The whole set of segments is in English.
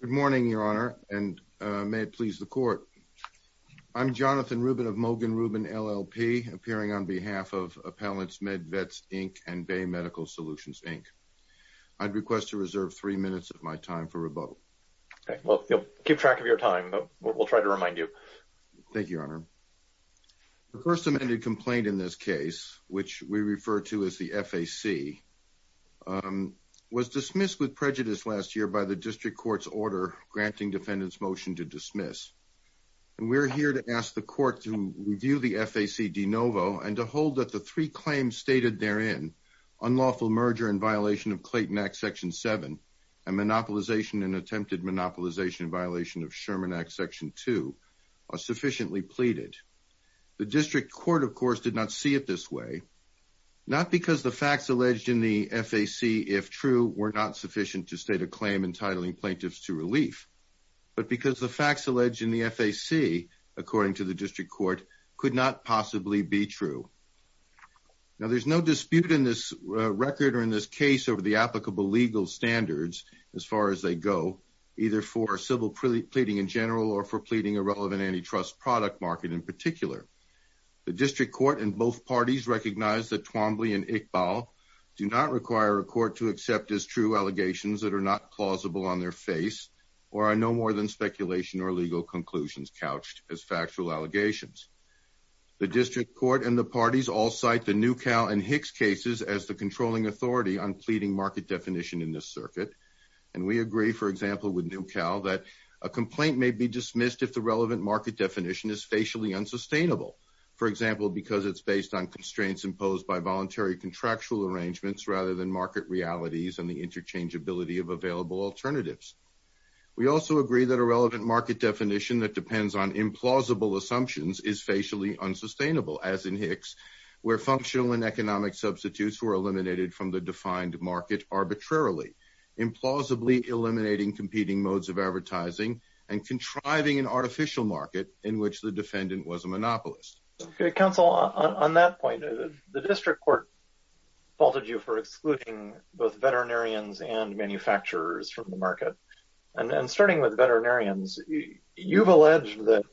Good morning, Your Honor, and may it please the Court. I'm Jonathan Rubin of Mogan Rubin, LLP, appearing on behalf of Appellants Med Vets, Inc. and Bay Medical Solutions, Inc. I'd request to reserve three minutes of my time for rebuttal. Okay, well, keep track of your time. We'll try to remind you. Thank you, Your Honor. The first amended complaint in this case, which we refer to as the FAC, was dismissed with prejudice last year by the District Court's order granting defendants motion to dismiss. And we're here to ask the Court to review the FAC de novo and to hold that the three claims stated therein, unlawful merger in violation of Clayton Act, Section 7, and monopolization and attempted monopolization in violation of Sherman Act, Section 2, are sufficiently pleaded. The District Court, of course, did not see it this way, not because the facts alleged in the FAC, if true, were not sufficient to state a claim entitling plaintiffs to relief, but because the facts alleged in the FAC, according to the District Court, could not possibly be true. Now, there's no dispute in this record or in this case over the applicable legal standards as far as they go, either for civil pleading in general or for pleading a relevant antitrust product market in particular. The District Court and both parties recognize that Twombly and Iqbal do not require a court to accept as true allegations that are not plausible on their face or are no more than speculation or legal conclusions couched as factual allegations. The District Court and the parties all cite the Newcal and Hicks cases as the controlling authority on pleading market definition in this circuit, and we agree, for example, with Newcal that a complaint may be dismissed if the relevant market definition is facially unsustainable, for example, because it's based on constraints imposed by voluntary contractual arrangements rather than market realities and the interchangeability of available alternatives. We also agree that a relevant market definition that depends on implausible assumptions is facially unsustainable, as in Hicks, where functional and economic substitutes were eliminated from the defined market arbitrarily, implausibly eliminating competing modes of advertising and contriving an artificial market in which the defendant was a monopolist. Counsel, on that point, the District Court faulted you for excluding both veterinarians and manufacturers from the market. And starting with veterinarians, you've alleged that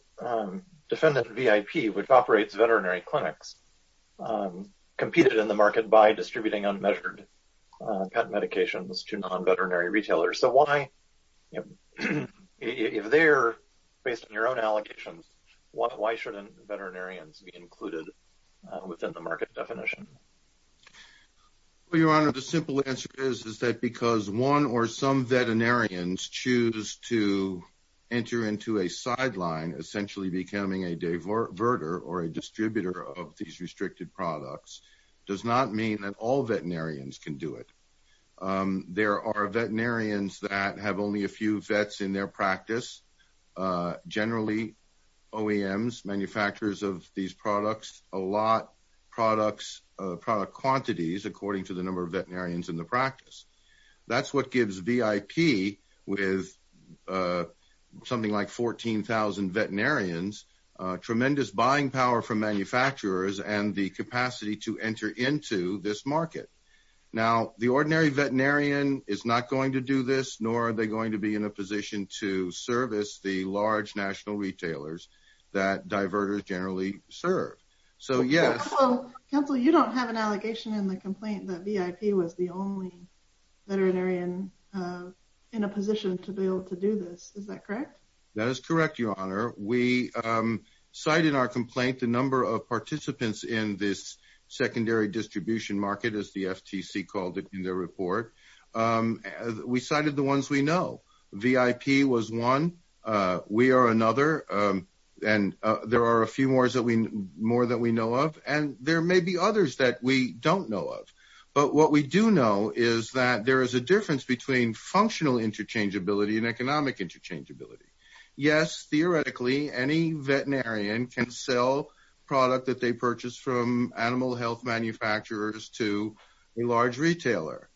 defendant VIP, which operates veterinary clinics, competed in the market by distributing unmeasured medications to non-veterinary retailers. So why, if they're based on your own allegations, why shouldn't veterinarians be included within the market definition? Your Honor, the simple answer is that because one or some veterinarians choose to enter into a sideline, essentially becoming a diverter or a distributor of these restricted products does not mean that all veterinarians can do it. There are veterinarians that have only a few vets in their practice. Generally, OEMs, manufacturers of these products, allot product quantities according to the number of veterinarians in the practice. That's what gives VIP, with something like 14,000 veterinarians, tremendous buying power from manufacturers and the capacity to enter into this market. Now, the ordinary veterinarian is not going to do this, nor are they going to be in a position to service the large national retailers that diverters generally serve. Counsel, you don't have an allegation in the complaint that VIP was the only veterinarian in a position to be able to do this. Is that correct? That is correct, Your Honor. We cite in our complaint the number of participants in this secondary distribution market, as the FTC called it in their report. We cited the ones we know. VIP was one. We are another. And there are a few more that we know of, and there may be others that we don't know of. But what we do know is that there is a difference between functional interchangeability and economic interchangeability. Yes, theoretically, any veterinarian can sell product that they purchase from animal health manufacturers to a large retailer.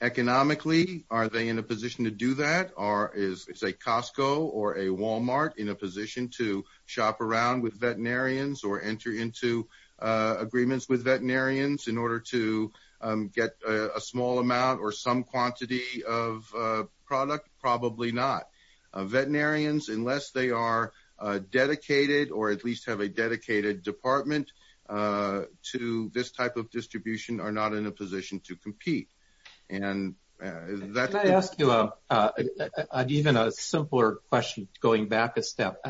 Economically, are they in a position to do that, or is a Costco or a Walmart in a position to shop around with veterinarians or enter into agreements with veterinarians in order to get a small amount or some quantity of product? Probably not. Veterinarians, unless they are dedicated or at least have a dedicated department to this type of distribution, are not in a position to compete. Can I ask you a simpler question, going back a step?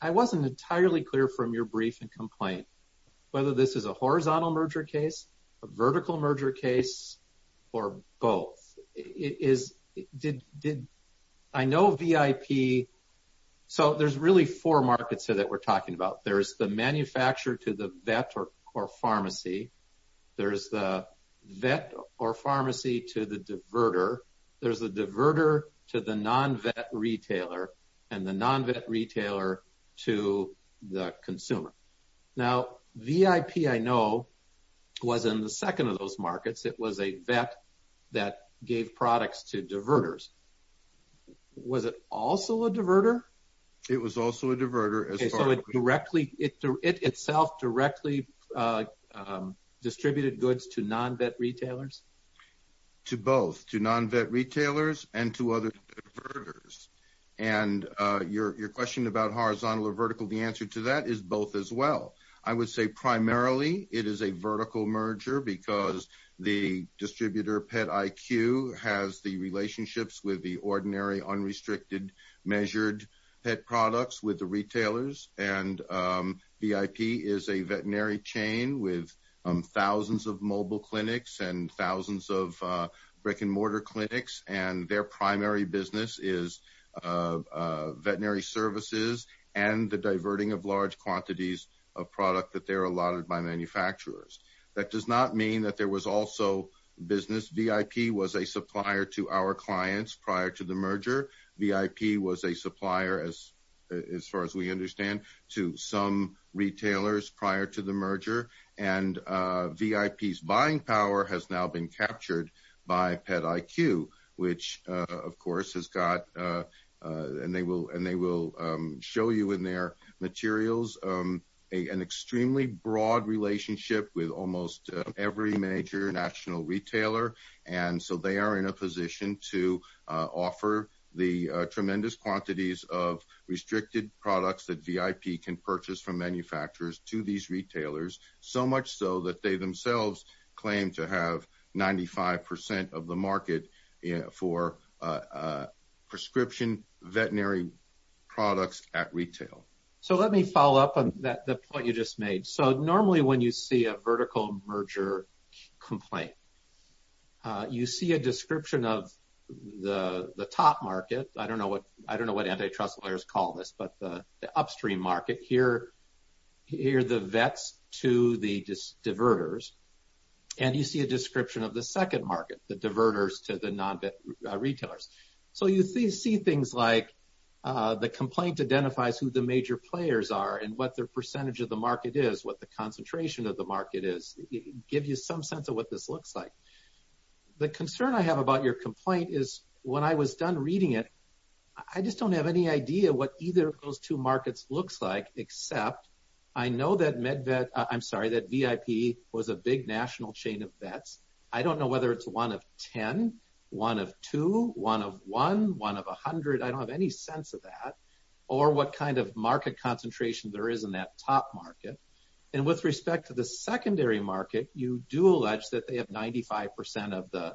I wasn't entirely clear from your brief and complaint whether this is a horizontal merger case, a vertical merger case, or both. There are really four markets that we're talking about. There's the manufacturer to the vet or pharmacy. There's the vet or pharmacy to the diverter. There's the diverter to the non-vet retailer, and the non-vet retailer to the consumer. Now, VIP, I know, was in the second of those markets. It was a vet that gave products to diverters. Was it also a diverter? It was also a diverter. It itself directly distributed goods to non-vet retailers? To both, to non-vet retailers and to other diverters. And your question about horizontal or vertical, the answer to that is both as well. I would say primarily it is a vertical merger because the distributor, Pet IQ, has the relationships with the ordinary, unrestricted, measured pet products with the retailers. And VIP is a veterinary chain with thousands of mobile clinics and thousands of brick-and-mortar clinics, and their primary business is veterinary services and the diverting of large quantities of product that they're allotted by manufacturers. That does not mean that there was also business. VIP was a supplier to our clients prior to the merger. VIP was a supplier, as far as we understand, to some retailers prior to the merger. And VIP's buying power has now been captured by Pet IQ, which, of course, has got, and they will show you in their materials, an extremely broad relationship with almost every major national retailer. And so they are in a position to offer the tremendous quantities of restricted products that VIP can purchase from manufacturers to these retailers, so much so that they themselves claim to have 95% of the market for prescription veterinary products at retail. So let me follow up on the point you just made. So normally when you see a vertical merger complaint, you see a description of the top market. I don't know what antitrust lawyers call this, but the upstream market. Here are the vets to the diverters, and you see a description of the second market, the diverters to the non-vet retailers. So you see things like the complaint identifies who the major players are and what their percentage of the market is, what the concentration of the market is. So I just wanted to give you some sense of what this looks like. The concern I have about your complaint is when I was done reading it, I just don't have any idea what either of those two markets looks like, except I know that MedVet, I'm sorry, that VIP was a big national chain of vets. I don't know whether it's one of 10, one of two, one of one, one of 100, I don't have any sense of that, or what kind of market concentration there is in that top market. And with respect to the secondary market, you do allege that they have 95% of the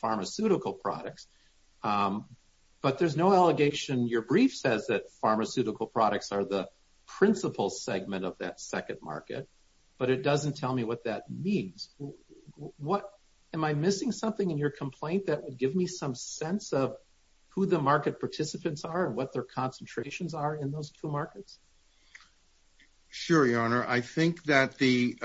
pharmaceutical products. But there's no allegation, your brief says that pharmaceutical products are the principal segment of that second market, but it doesn't tell me what that means. What, am I missing something in your complaint that would give me some sense of who the market participants are and what their concentrations are in those two markets? Sure, your honor. I think that the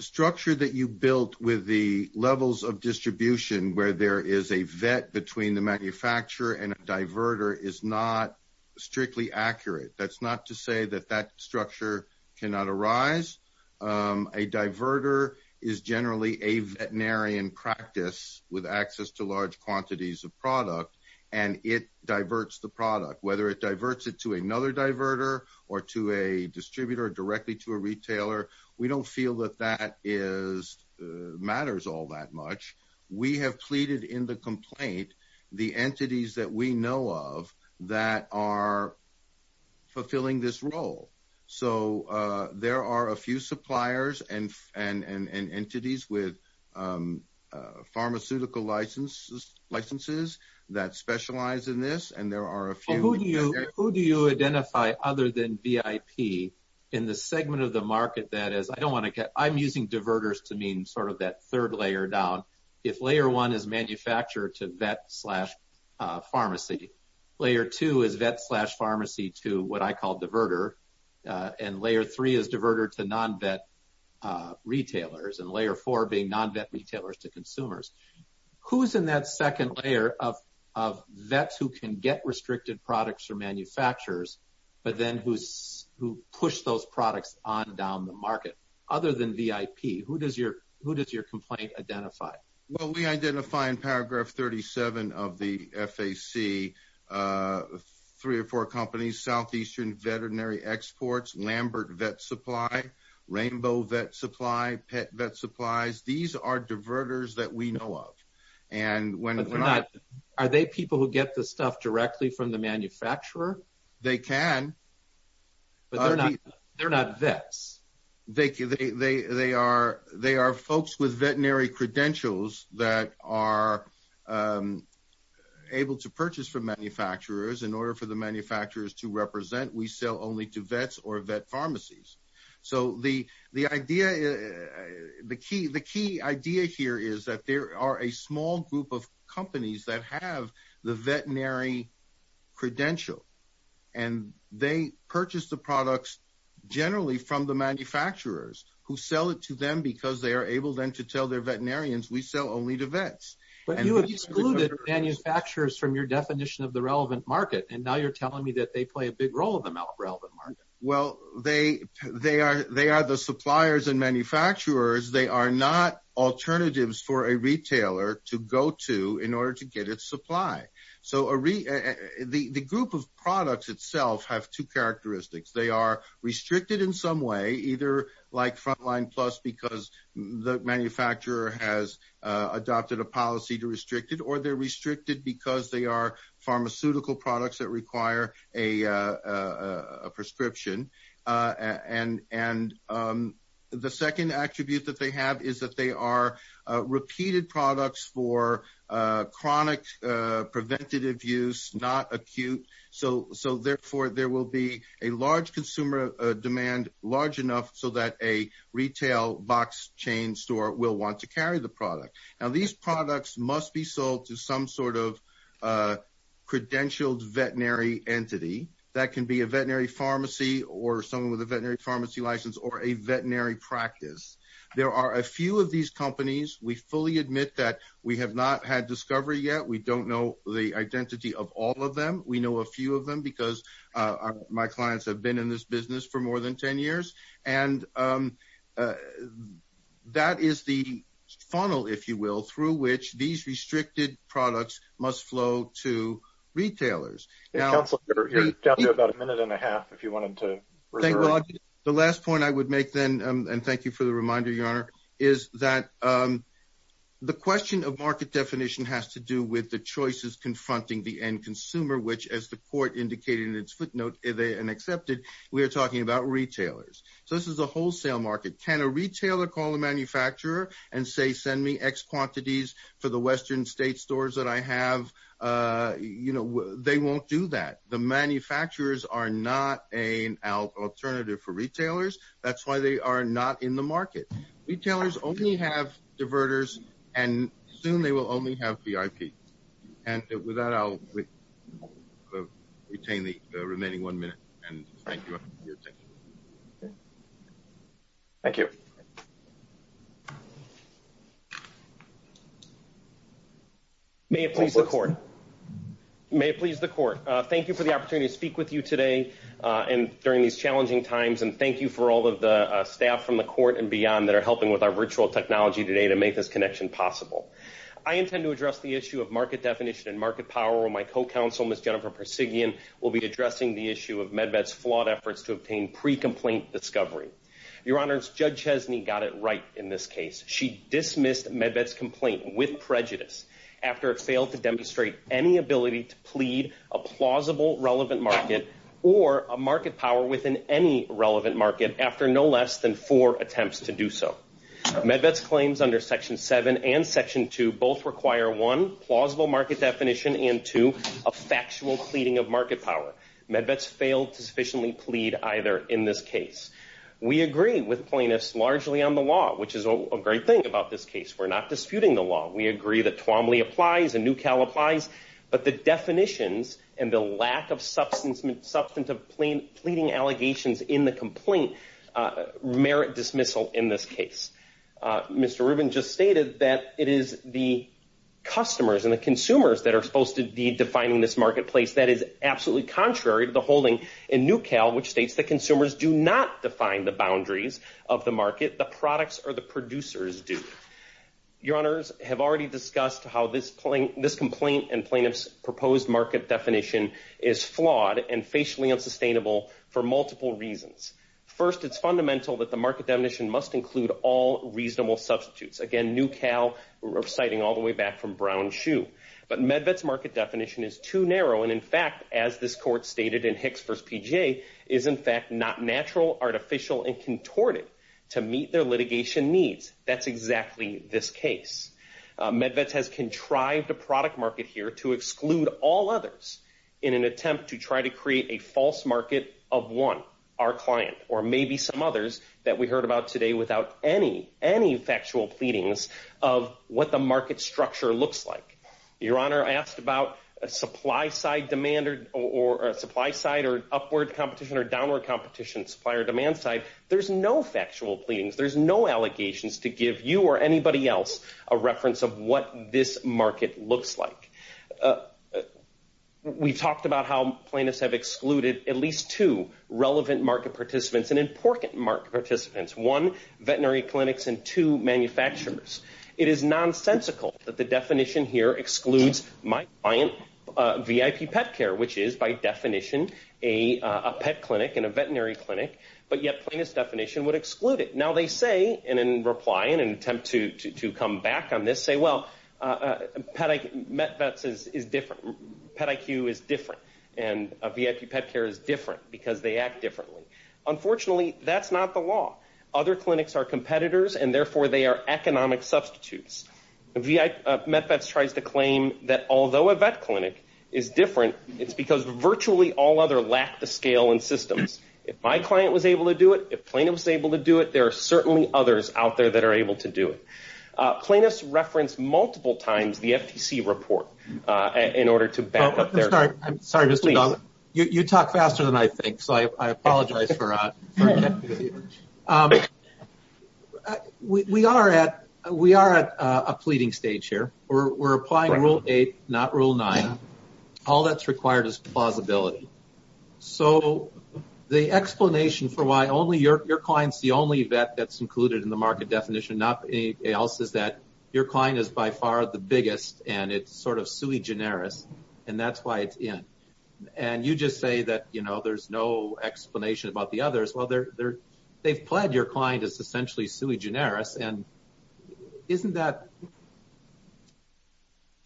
structure that you built with the levels of distribution where there is a vet between the manufacturer and a diverter is not strictly accurate. That's not to say that that structure cannot arise. A diverter is generally a veterinarian practice with access to large quantities of product, and it diverts the product. Whether it diverts it to another diverter or to a distributor directly to a retailer, we don't feel that that matters all that much. We have pleaded in the complaint the entities that we know of that are fulfilling this role. So there are a few suppliers and entities with pharmaceutical licenses that specialize in this, and there are a few- And layer three is diverter to non-vet retailers, and layer four being non-vet retailers to consumers. Who's in that second layer of vets who can get restricted products from manufacturers, but then who push those products on down the market, other than VIP? Who does your complaint identify? Well, we identify in paragraph 37 of the FAC three or four companies, Southeastern Veterinary Exports, Lambert Vet Supply, Rainbow Vet Supply, Pet Vet Supplies. These are diverters that we know of. Are they people who get the stuff directly from the manufacturer? They can. But they're not vets. They are folks with veterinary credentials that are able to purchase from manufacturers. In order for the manufacturers to represent, we sell only to vets or vet pharmacies. So the key idea here is that there are a small group of companies that have the veterinary credential, and they purchase the products generally from the manufacturers who sell it to them because they are able then to tell their veterinarians, we sell only to vets. But you have excluded manufacturers from your definition of the relevant market, and now you're telling me that they play a big role in the relevant market. Well, they are the suppliers and manufacturers. They are not alternatives for a retailer to go to in order to get its supply. So the group of products itself have two characteristics. They are restricted in some way, either like Frontline Plus because the manufacturer has adopted a policy to restrict it, or they're restricted because they are pharmaceutical products that require a prescription. And the second attribute that they have is that they are repeated products for chronic preventative use, not acute. So therefore, there will be a large consumer demand large enough so that a retail box chain store will want to carry the product. Now, these products must be sold to some sort of credentialed veterinary entity that can be a veterinary pharmacy or someone with a veterinary pharmacy license or a veterinary practice. There are a few of these companies. We fully admit that we have not had discovery yet. We don't know the identity of all of them. We know a few of them because my clients have been in this business for more than 10 years. And that is the funnel, if you will, through which these restricted products must flow to retailers. Counselor, you're down to about a minute and a half if you wanted to. The last point I would make then, and thank you for the reminder, Your Honor, is that the question of market definition has to do with the choices confronting the end consumer, which, as the court indicated in its footnote, and accepted, we are talking about retailers. So this is a wholesale market. Can a retailer call a manufacturer and say, send me X quantities for the Western state stores that I have? You know, they won't do that. The manufacturers are not an alternative for retailers. That's why they are not in the market. Retailers only have diverters, and soon they will only have VIP. And with that, I'll retain the remaining one minute and thank you for your attention. Thank you. May it please the court. May it please the court. Thank you for the opportunity to speak with you today and during these challenging times. And thank you for all of the staff from the court and beyond that are helping with our virtual technology today to make this connection possible. I intend to address the issue of market definition and market power where my co-counsel, Ms. Jennifer Persigian, will be addressing the issue of MedVet's flawed efforts to obtain pre-complaint discovery. Your Honor, Judge Chesney got it right in this case. She dismissed MedVet's complaint with prejudice after it failed to demonstrate any ability to plead a plausible relevant market or a market power within any relevant market after no less than four attempts to do so. MedVet's claims under Section 7 and Section 2 both require one, plausible market definition, and two, a factual pleading of market power. MedVet's failed to sufficiently plead either in this case. We agree with plaintiffs largely on the law, which is a great thing about this case. We're not disputing the law. We agree that Twombly applies and NewCal applies, but the definitions and the lack of substantive pleading allegations in the complaint merit dismissal in this case. Mr. Rubin just stated that it is the customers and the consumers that are supposed to be defining this marketplace. That is absolutely contrary to the holding in NewCal, which states that consumers do not define the boundaries of the market. The products or the producers do. Your Honors have already discussed how this complaint and plaintiff's proposed market definition is flawed and facially unsustainable for multiple reasons. First, it's fundamental that the market definition must include all reasonable substitutes. Again, NewCal, we're reciting all the way back from Brown Shoe. But MedVet's market definition is too narrow, and in fact, as this court stated in Hicks v. PGA, is in fact not natural, artificial, and contorted to meet their litigation needs. That's exactly this case. MedVet has contrived a product market here to exclude all others in an attempt to try to create a false market of one. Our client or maybe some others that we heard about today without any, any factual pleadings of what the market structure looks like. Your Honor asked about a supply side demand or supply side or upward competition or downward competition supplier demand side. There's no factual pleadings. There's no allegations to give you or anybody else a reference of what this market looks like. We've talked about how plaintiffs have excluded at least two relevant market participants and important market participants. One, veterinary clinics, and two, manufacturers. It is nonsensical that the definition here excludes my client, VIP Pet Care, which is by definition a pet clinic and a veterinary clinic. But yet plaintiff's definition would exclude it. Now they say, and in reply, in an attempt to come back on this, say, well, MedVets is different. Pet IQ is different. And VIP Pet Care is different because they act differently. Unfortunately, that's not the law. Other clinics are competitors and therefore they are economic substitutes. MedVets tries to claim that although a vet clinic is different, it's because virtually all other lack the scale and systems. If my client was able to do it, if plaintiff was able to do it, there are certainly others out there that are able to do it. Plaintiffs reference multiple times the FTC report in order to back up their claim. You talk faster than I think, so I apologize for that. We are at a pleading stage here. We're applying Rule 8, not Rule 9. All that's required is plausibility. So the explanation for why your client is the only vet that's included in the market definition, not anybody else, is that your client is by far the biggest and it's sort of sui generis. And that's why it's in. And you just say that there's no explanation about the others. Well, they've pledged your client is essentially sui generis. Isn't that...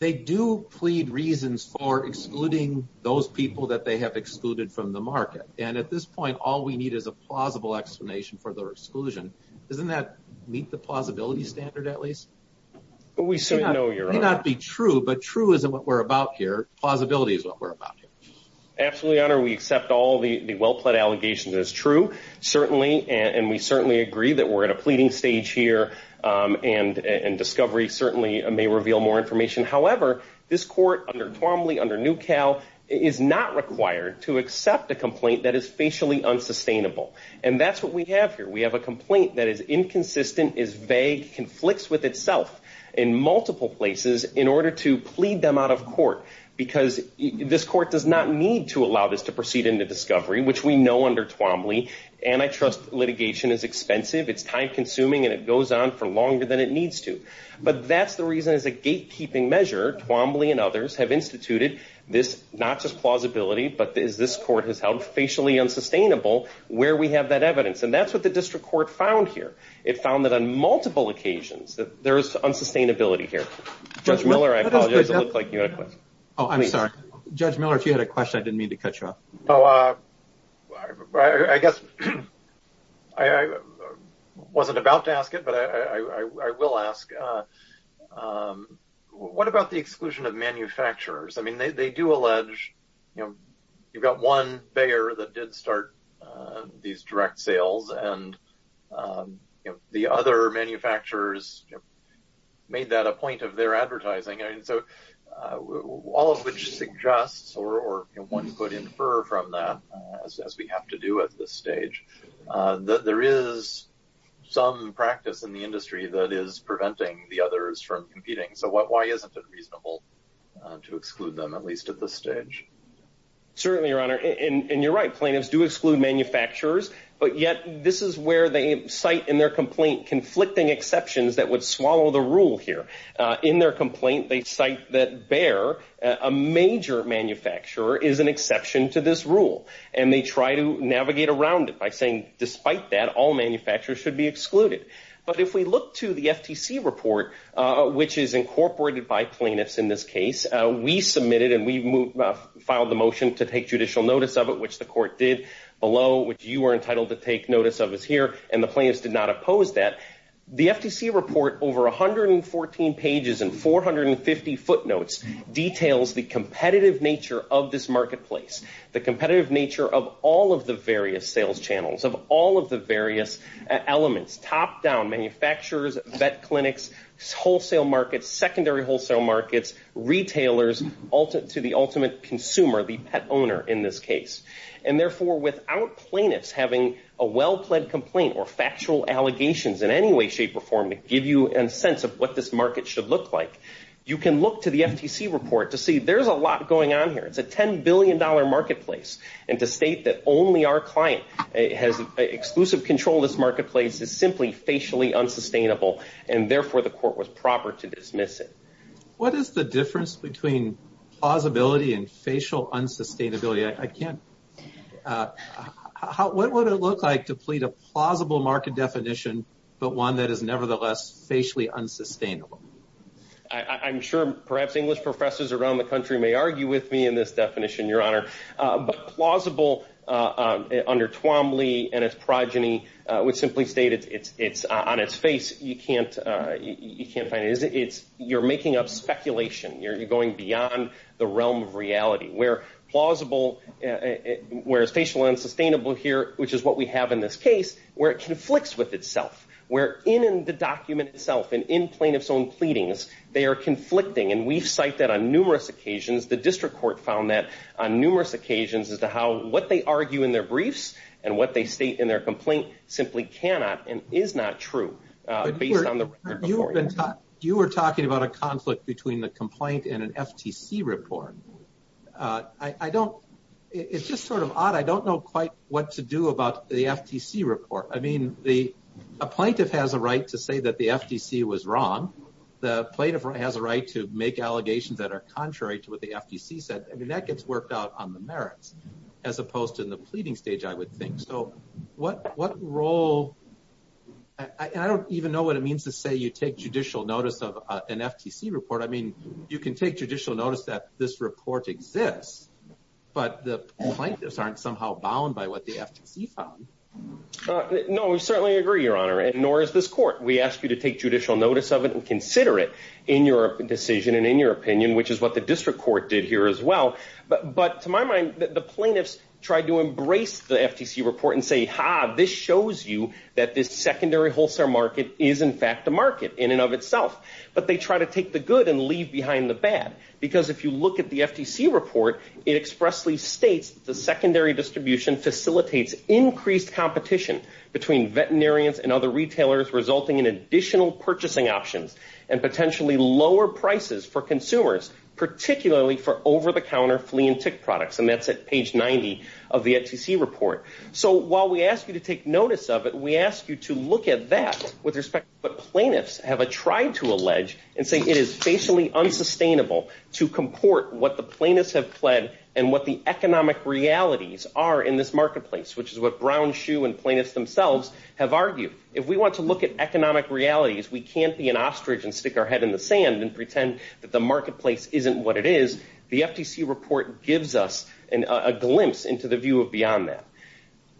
They do plead reasons for excluding those people that they have excluded from the market. And at this point, all we need is a plausible explanation for their exclusion. Doesn't that meet the plausibility standard, at least? We certainly know, Your Honor. It may not be true, but true isn't what we're about here. Plausibility is what we're about here. Absolutely, Your Honor. We accept all the well-pled allegations as true. Certainly. And we certainly agree that we're at a pleading stage here. And discovery certainly may reveal more information. However, this court under Twombly, under Newcal, is not required to accept a complaint that is facially unsustainable. And that's what we have here. We have a complaint that is inconsistent, is vague, conflicts with itself in multiple places in order to plead them out of court. Because this court does not need to allow this to proceed into discovery, which we know under Twombly. Antitrust litigation is expensive, it's time-consuming, and it goes on for longer than it needs to. But that's the reason, as a gatekeeping measure, Twombly and others have instituted this, not just plausibility, but as this court has held facially unsustainable, where we have that evidence. And that's what the district court found here. It found that on multiple occasions that there is unsustainability here. Judge Miller, I apologize, it looked like you had a question. Oh, I'm sorry. Judge Miller, if you had a question, I didn't mean to cut you off. Oh, I guess I wasn't about to ask it, but I will ask. What about the exclusion of manufacturers? I mean, they do allege, you know, you've got one buyer that did start these direct sales, and the other manufacturers made that a point of their advertising. I mean, so all of which suggests, or one could infer from that, as we have to do at this stage, that there is some practice in the industry that is preventing the others from competing. So why isn't it reasonable to exclude them, at least at this stage? Certainly, Your Honor. And you're right, plaintiffs do exclude manufacturers. But yet, this is where they cite in their complaint conflicting exceptions that would swallow the rule here. In their complaint, they cite that Bayer, a major manufacturer, is an exception to this rule. And they try to navigate around it by saying, despite that, all manufacturers should be excluded. But if we look to the FTC report, which is incorporated by plaintiffs in this case, we submitted and we filed the motion to take judicial notice of it, which the court did below, which you are entitled to take notice of as here, and the plaintiffs did not oppose that. The FTC report, over 114 pages and 450 footnotes, details the competitive nature of this marketplace, the competitive nature of all of the various sales channels, of all of the various elements, top-down manufacturers, vet clinics, wholesale markets, secondary wholesale markets, retailers to the ultimate consumer, the pet owner in this case. And therefore, without plaintiffs having a well-plaid complaint or factual allegations in any way, shape, or form to give you a sense of what this market should look like, you can look to the FTC report to see there's a lot going on here. It's a $10 billion marketplace. And to state that only our client has exclusive control of this marketplace is simply facially unsustainable, and therefore, the court was proper to dismiss it. What is the difference between plausibility and facial unsustainability? I can't... What would it look like to plead a plausible market definition, but one that is nevertheless facially unsustainable? I'm sure perhaps English professors around the country may argue with me in this definition, Your Honor. But plausible, under Tuomly and its progeny, would simply state it's on its face. You can't find it. You're making up speculation. You're going beyond the realm of reality. Where plausible... Where it's facially unsustainable here, which is what we have in this case, where it conflicts with itself. Where in the document itself and in plaintiff's own pleadings, they are conflicting. And we've cited that on numerous occasions. The district court found that on numerous occasions as to how what they argue in their briefs and what they state in their complaint simply cannot and is not true based on the record. You were talking about a conflict between the complaint and an FTC report. I don't... It's just sort of odd. I don't know quite what to do about the FTC report. I mean, a plaintiff has a right to say that the FTC was wrong. The plaintiff has a right to make allegations that are contrary to what the FTC said. I mean, that gets worked out on the merits as opposed to in the pleading stage, I would think. So what role... And I don't even know what it means to say you take judicial notice of an FTC report. I mean, you can take judicial notice that this report exists, but the plaintiffs aren't somehow bound by what the FTC found. No, we certainly agree, Your Honor. Nor is this court. We ask you to take judicial notice of it and consider it in your decision and in your opinion, which is what the district court did here as well. But to my mind, the plaintiffs tried to embrace the FTC report and say, ha, this shows you that this secondary wholesale market is in fact a market in and of itself. But they try to take the good and leave behind the bad. Because if you look at the FTC report, it expressly states the secondary distribution facilitates increased competition between veterinarians and other retailers, resulting in additional purchasing options and potentially lower prices for consumers, particularly for over-the-counter flea and tick products. And that's at page 90 of the FTC report. So while we ask you to take notice of it, we ask you to look at that with respect to what plaintiffs have tried to allege and say it is facially unsustainable to comport what the plaintiffs have pled and what the economic realities are in this marketplace, which is what Brown, Shue, and plaintiffs themselves have argued. If we want to look at economic realities, we can't be an ostrich and stick our head in the sand and pretend that the marketplace isn't what it is. The FTC report gives us a glimpse into the view beyond that.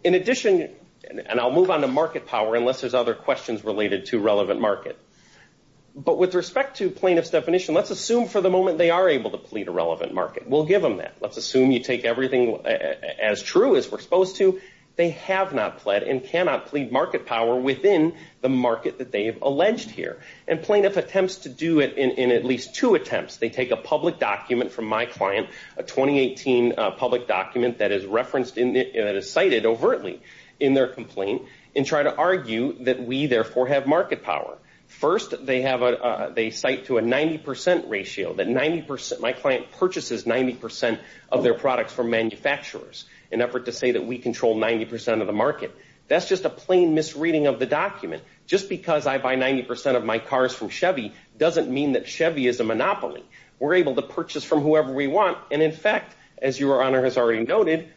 In addition, and I'll move on to market power But with respect to plaintiffs' definition, let's assume for the moment they are able to plead a relevant market. We'll give them that. Let's assume you take everything as true as we're supposed to. They have not pled and cannot plead market power within the market that they have alleged here. And plaintiff attempts to do it in at least two attempts. They take a public document from my client, a 2018 public document that is referenced, that is cited overtly in their complaint, and try to argue that we therefore have market power. First, they cite to a 90% ratio, that my client purchases 90% of their products from manufacturers in an effort to say that we control 90% of the market. That's just a plain misreading of the document. Just because I buy 90% of my cars from Chevy doesn't mean that Chevy is a monopoly. We're able to purchase from whoever we want, and in fact, as Your Honor has already noted,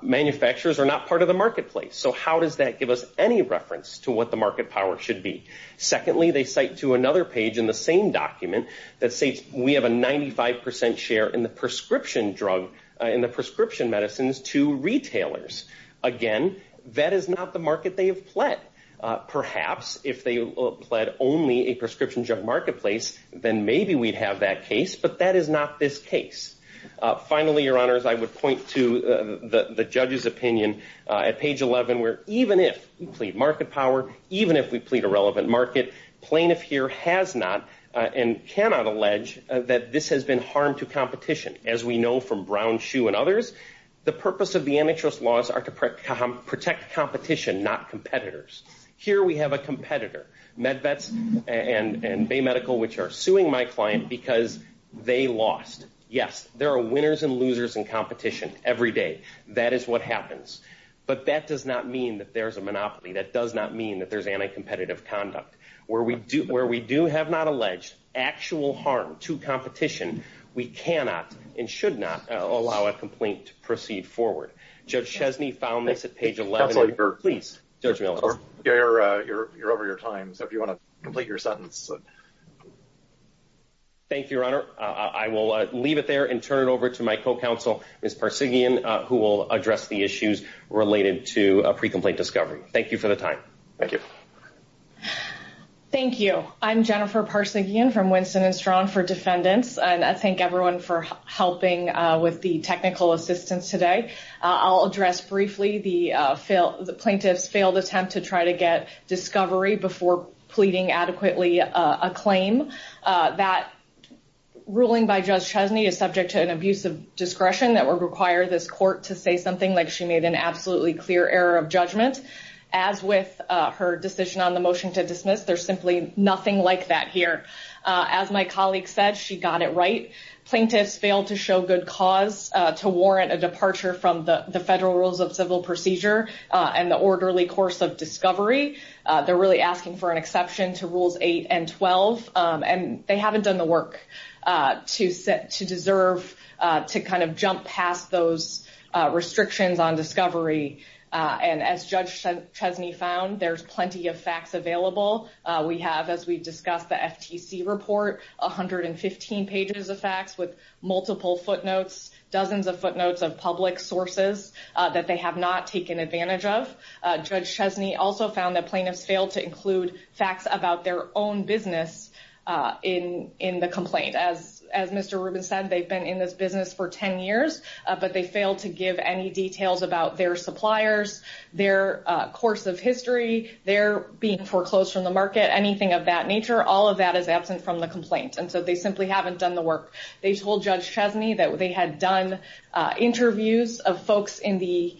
manufacturers are not part of the marketplace. So how does that give us any reference to what the market power should be? Secondly, they cite to another page in the same document that states we have a 95% share in the prescription drug, in the prescription medicines, to retailers. Again, that is not the market they have pled. Perhaps if they pled only a prescription drug marketplace, then maybe we'd have that case, but that is not this case. Finally, Your Honors, I would point to the judge's opinion at page 11, where even if we plead market power, even if we plead a relevant market, plaintiff here has not and cannot allege that this has been harm to competition. As we know from Brown, Shue, and others, the purpose of the antitrust laws are to protect competition, not competitors. Here we have a competitor, MedVets and Bay Medical, which are suing my client because they lost. Yes, there are winners and losers in competition every day. That is what happens. But that does not mean that there's a monopoly. That does not mean that there's anti-competitive conduct. Where we do have not alleged actual harm to competition, we cannot and should not allow a complaint to proceed forward. Judge Chesney found this at page 11. Please, Judge Millis. You're over your time, so if you want to complete your sentence. Thank you, Your Honor. I will leave it there and turn it over to my co-counsel, Ms. Persigian, who will address the issues related to a pre-complaint discovery. Thank you for the time. Thank you. Thank you. I'm Jennifer Persigian from Winston & Strong for Defendants, and I thank everyone for helping with the technical assistance today. I'll address briefly the plaintiff's failed attempt to try to get discovery before pleading adequately a claim. That ruling by Judge Chesney is subject to an abuse of discretion that would require this court to say something like she made an absolutely clear error of judgment. I'm not going to go through her decision on the motion to dismiss. There's simply nothing like that here. As my colleague said, she got it right. Plaintiffs failed to show good cause to warrant a departure from the federal rules of civil procedure and the orderly course of discovery. They're really asking for an exception to Rules 8 and 12, and they haven't done the work to deserve to kind of jump past those restrictions on discovery. And as Judge Chesney found, there's plenty of facts available. We have, as we discussed, the FTC report, 115 pages of facts with multiple footnotes, dozens of footnotes of public sources that they have not taken advantage of. Judge Chesney also found that plaintiffs failed to include facts about their own business in the complaint. As Mr. Rubin said, they've been in this business for 10 years, but they failed to give any details about their suppliers, their course of history, their being foreclosed from the market, anything of that nature. All of that is absent from the complaint, and so they simply haven't done the work. They told Judge Chesney that they had done interviews of folks in the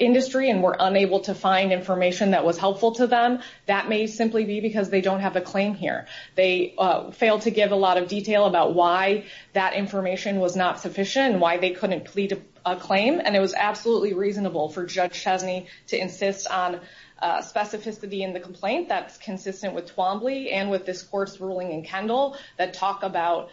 industry and were unable to find information that was helpful to them. That may simply be because they don't have a claim here. They failed to give a lot of detail about why that information was not sufficient, why they couldn't plead a claim. And it was absolutely reasonable for Judge Chesney to insist on specificity in the complaint that's consistent with Twombly and with this court's ruling in Kendall that talk about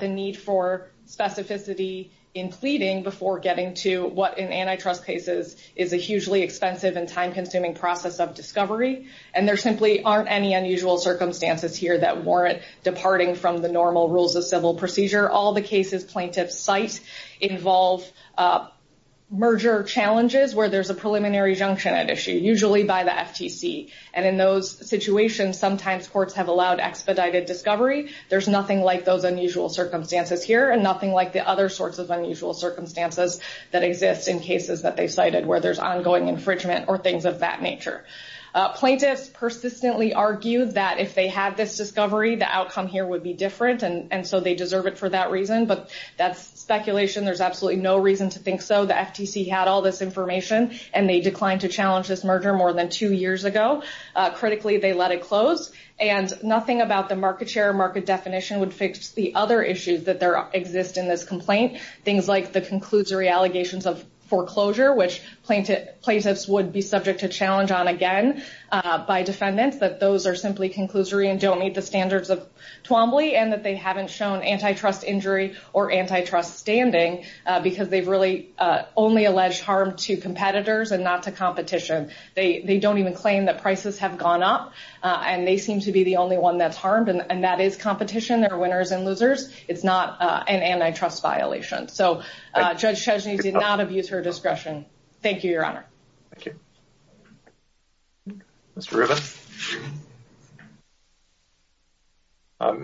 the need for specificity in pleading before getting to what, in antitrust cases, is a hugely expensive and time-consuming process of discovery. And there simply aren't any unusual circumstances here that warrant departing from the normal rules of civil procedure. All the cases plaintiffs cite involve merger challenges where there's a preliminary junction at issue, usually by the FTC. And in those situations, sometimes courts have allowed expedited discovery. There's nothing like those unusual circumstances here and nothing like the other sorts of unusual circumstances that exist in cases that they cited where there's ongoing infringement or things of that nature. Plaintiffs persistently argue that if they had this discovery, the outcome here would be different, and so they deserve it for that reason. But that's speculation. There's absolutely no reason to think so. The FTC had all this information, and they declined to challenge this merger more than two years ago. Critically, they let it close. And nothing about the market share or market definition would fix the other issues that exist in this complaint, things like the conclusory allegations of foreclosure, which plaintiffs would be subject to challenge on again by defendants, that those are simply conclusory and don't meet the standards of Twombly, and they haven't shown antitrust injury or antitrust standing because they've really only alleged harm to competitors and not to competition. They don't even claim that prices have gone up, and they seem to be the only one that's harmed, and that is competition. They're winners and losers. It's not an antitrust violation. So Judge Chesney did not abuse her discretion. Thank you, Your Honor. Thank you. Mr. Rubin?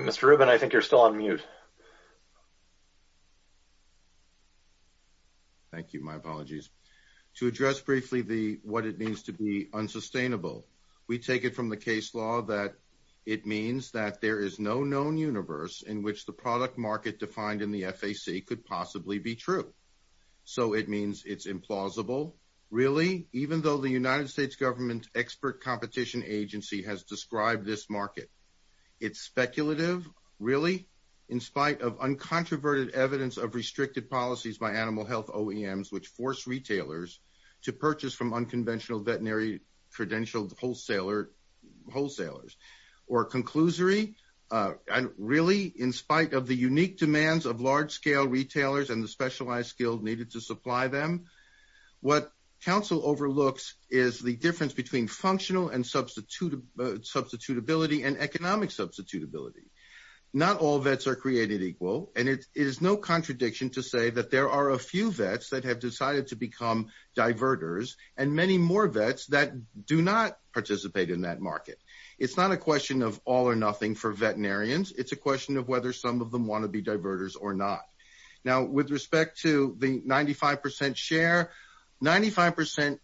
Mr. Rubin, I think you're still on mute. Thank you. My apologies. To address briefly what it means to be unsustainable, we take it from the case law that it means that there is no known universe in which the product market defined in the FAC could possibly be true. So it means it's implausible. Really? Even though the United States government's expert competition agency has described this market. It's speculative? Really? In spite of uncontroverted evidence of restricted policies by animal health OEMs which force retailers to purchase from unconventional veterinary credentialed wholesalers. Or a conclusory? Really? In spite of the unique demands of large-scale retailers and the specialized skill needed to supply them? What counsel overlooks is the difference between functional and substitutability and economic substitutability. Not all vets are created equal. And it is no contradiction to say that there are a few vets that have decided to become diverters and many more vets that do not participate in that market. It's not a question of all or nothing for veterinarians. It's a question of whether some of them want to be diverters or not. Now, with respect to the 95% share, 95%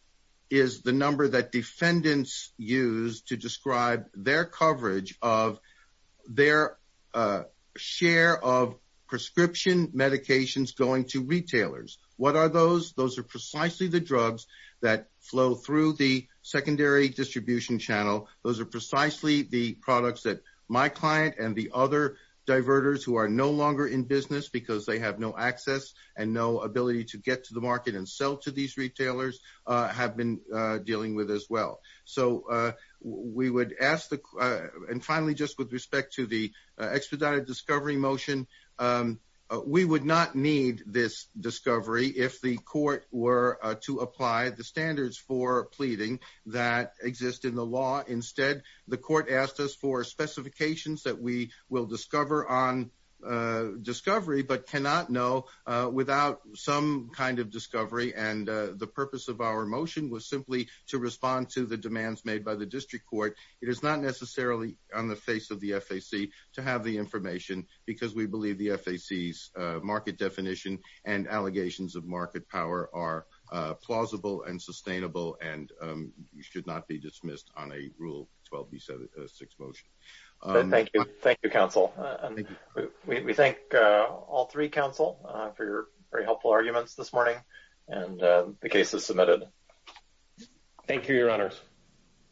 is the number that defendants use to describe their coverage of their share of prescription medications going to retailers. What are those? Those are precisely the drugs that flow through the secondary distribution channel. Those are precisely the products that my client and the other diverters who are no longer in business because they have no access and no ability to get to the market and sell to these retailers have been dealing with as well. So we would ask the... And finally, just with respect to the expedited discovery motion, we would not need this discovery if the court were to apply the standards for pleading that exist in the law. Instead, the court asked us for specifications that we will discover on discovery but cannot know without some kind of discovery and the purpose of our motion was simply to respond to the demands made by the district court. It is not necessarily on the face of the FAC to have the information because we believe the FAC's market definition and allegations of market power are plausible and sustainable and should not be dismissed on a Rule 12B6 motion. Thank you. Thank you, counsel. We thank all three counsel for your very helpful arguments this morning and the case is submitted. Thank you, Your Honors.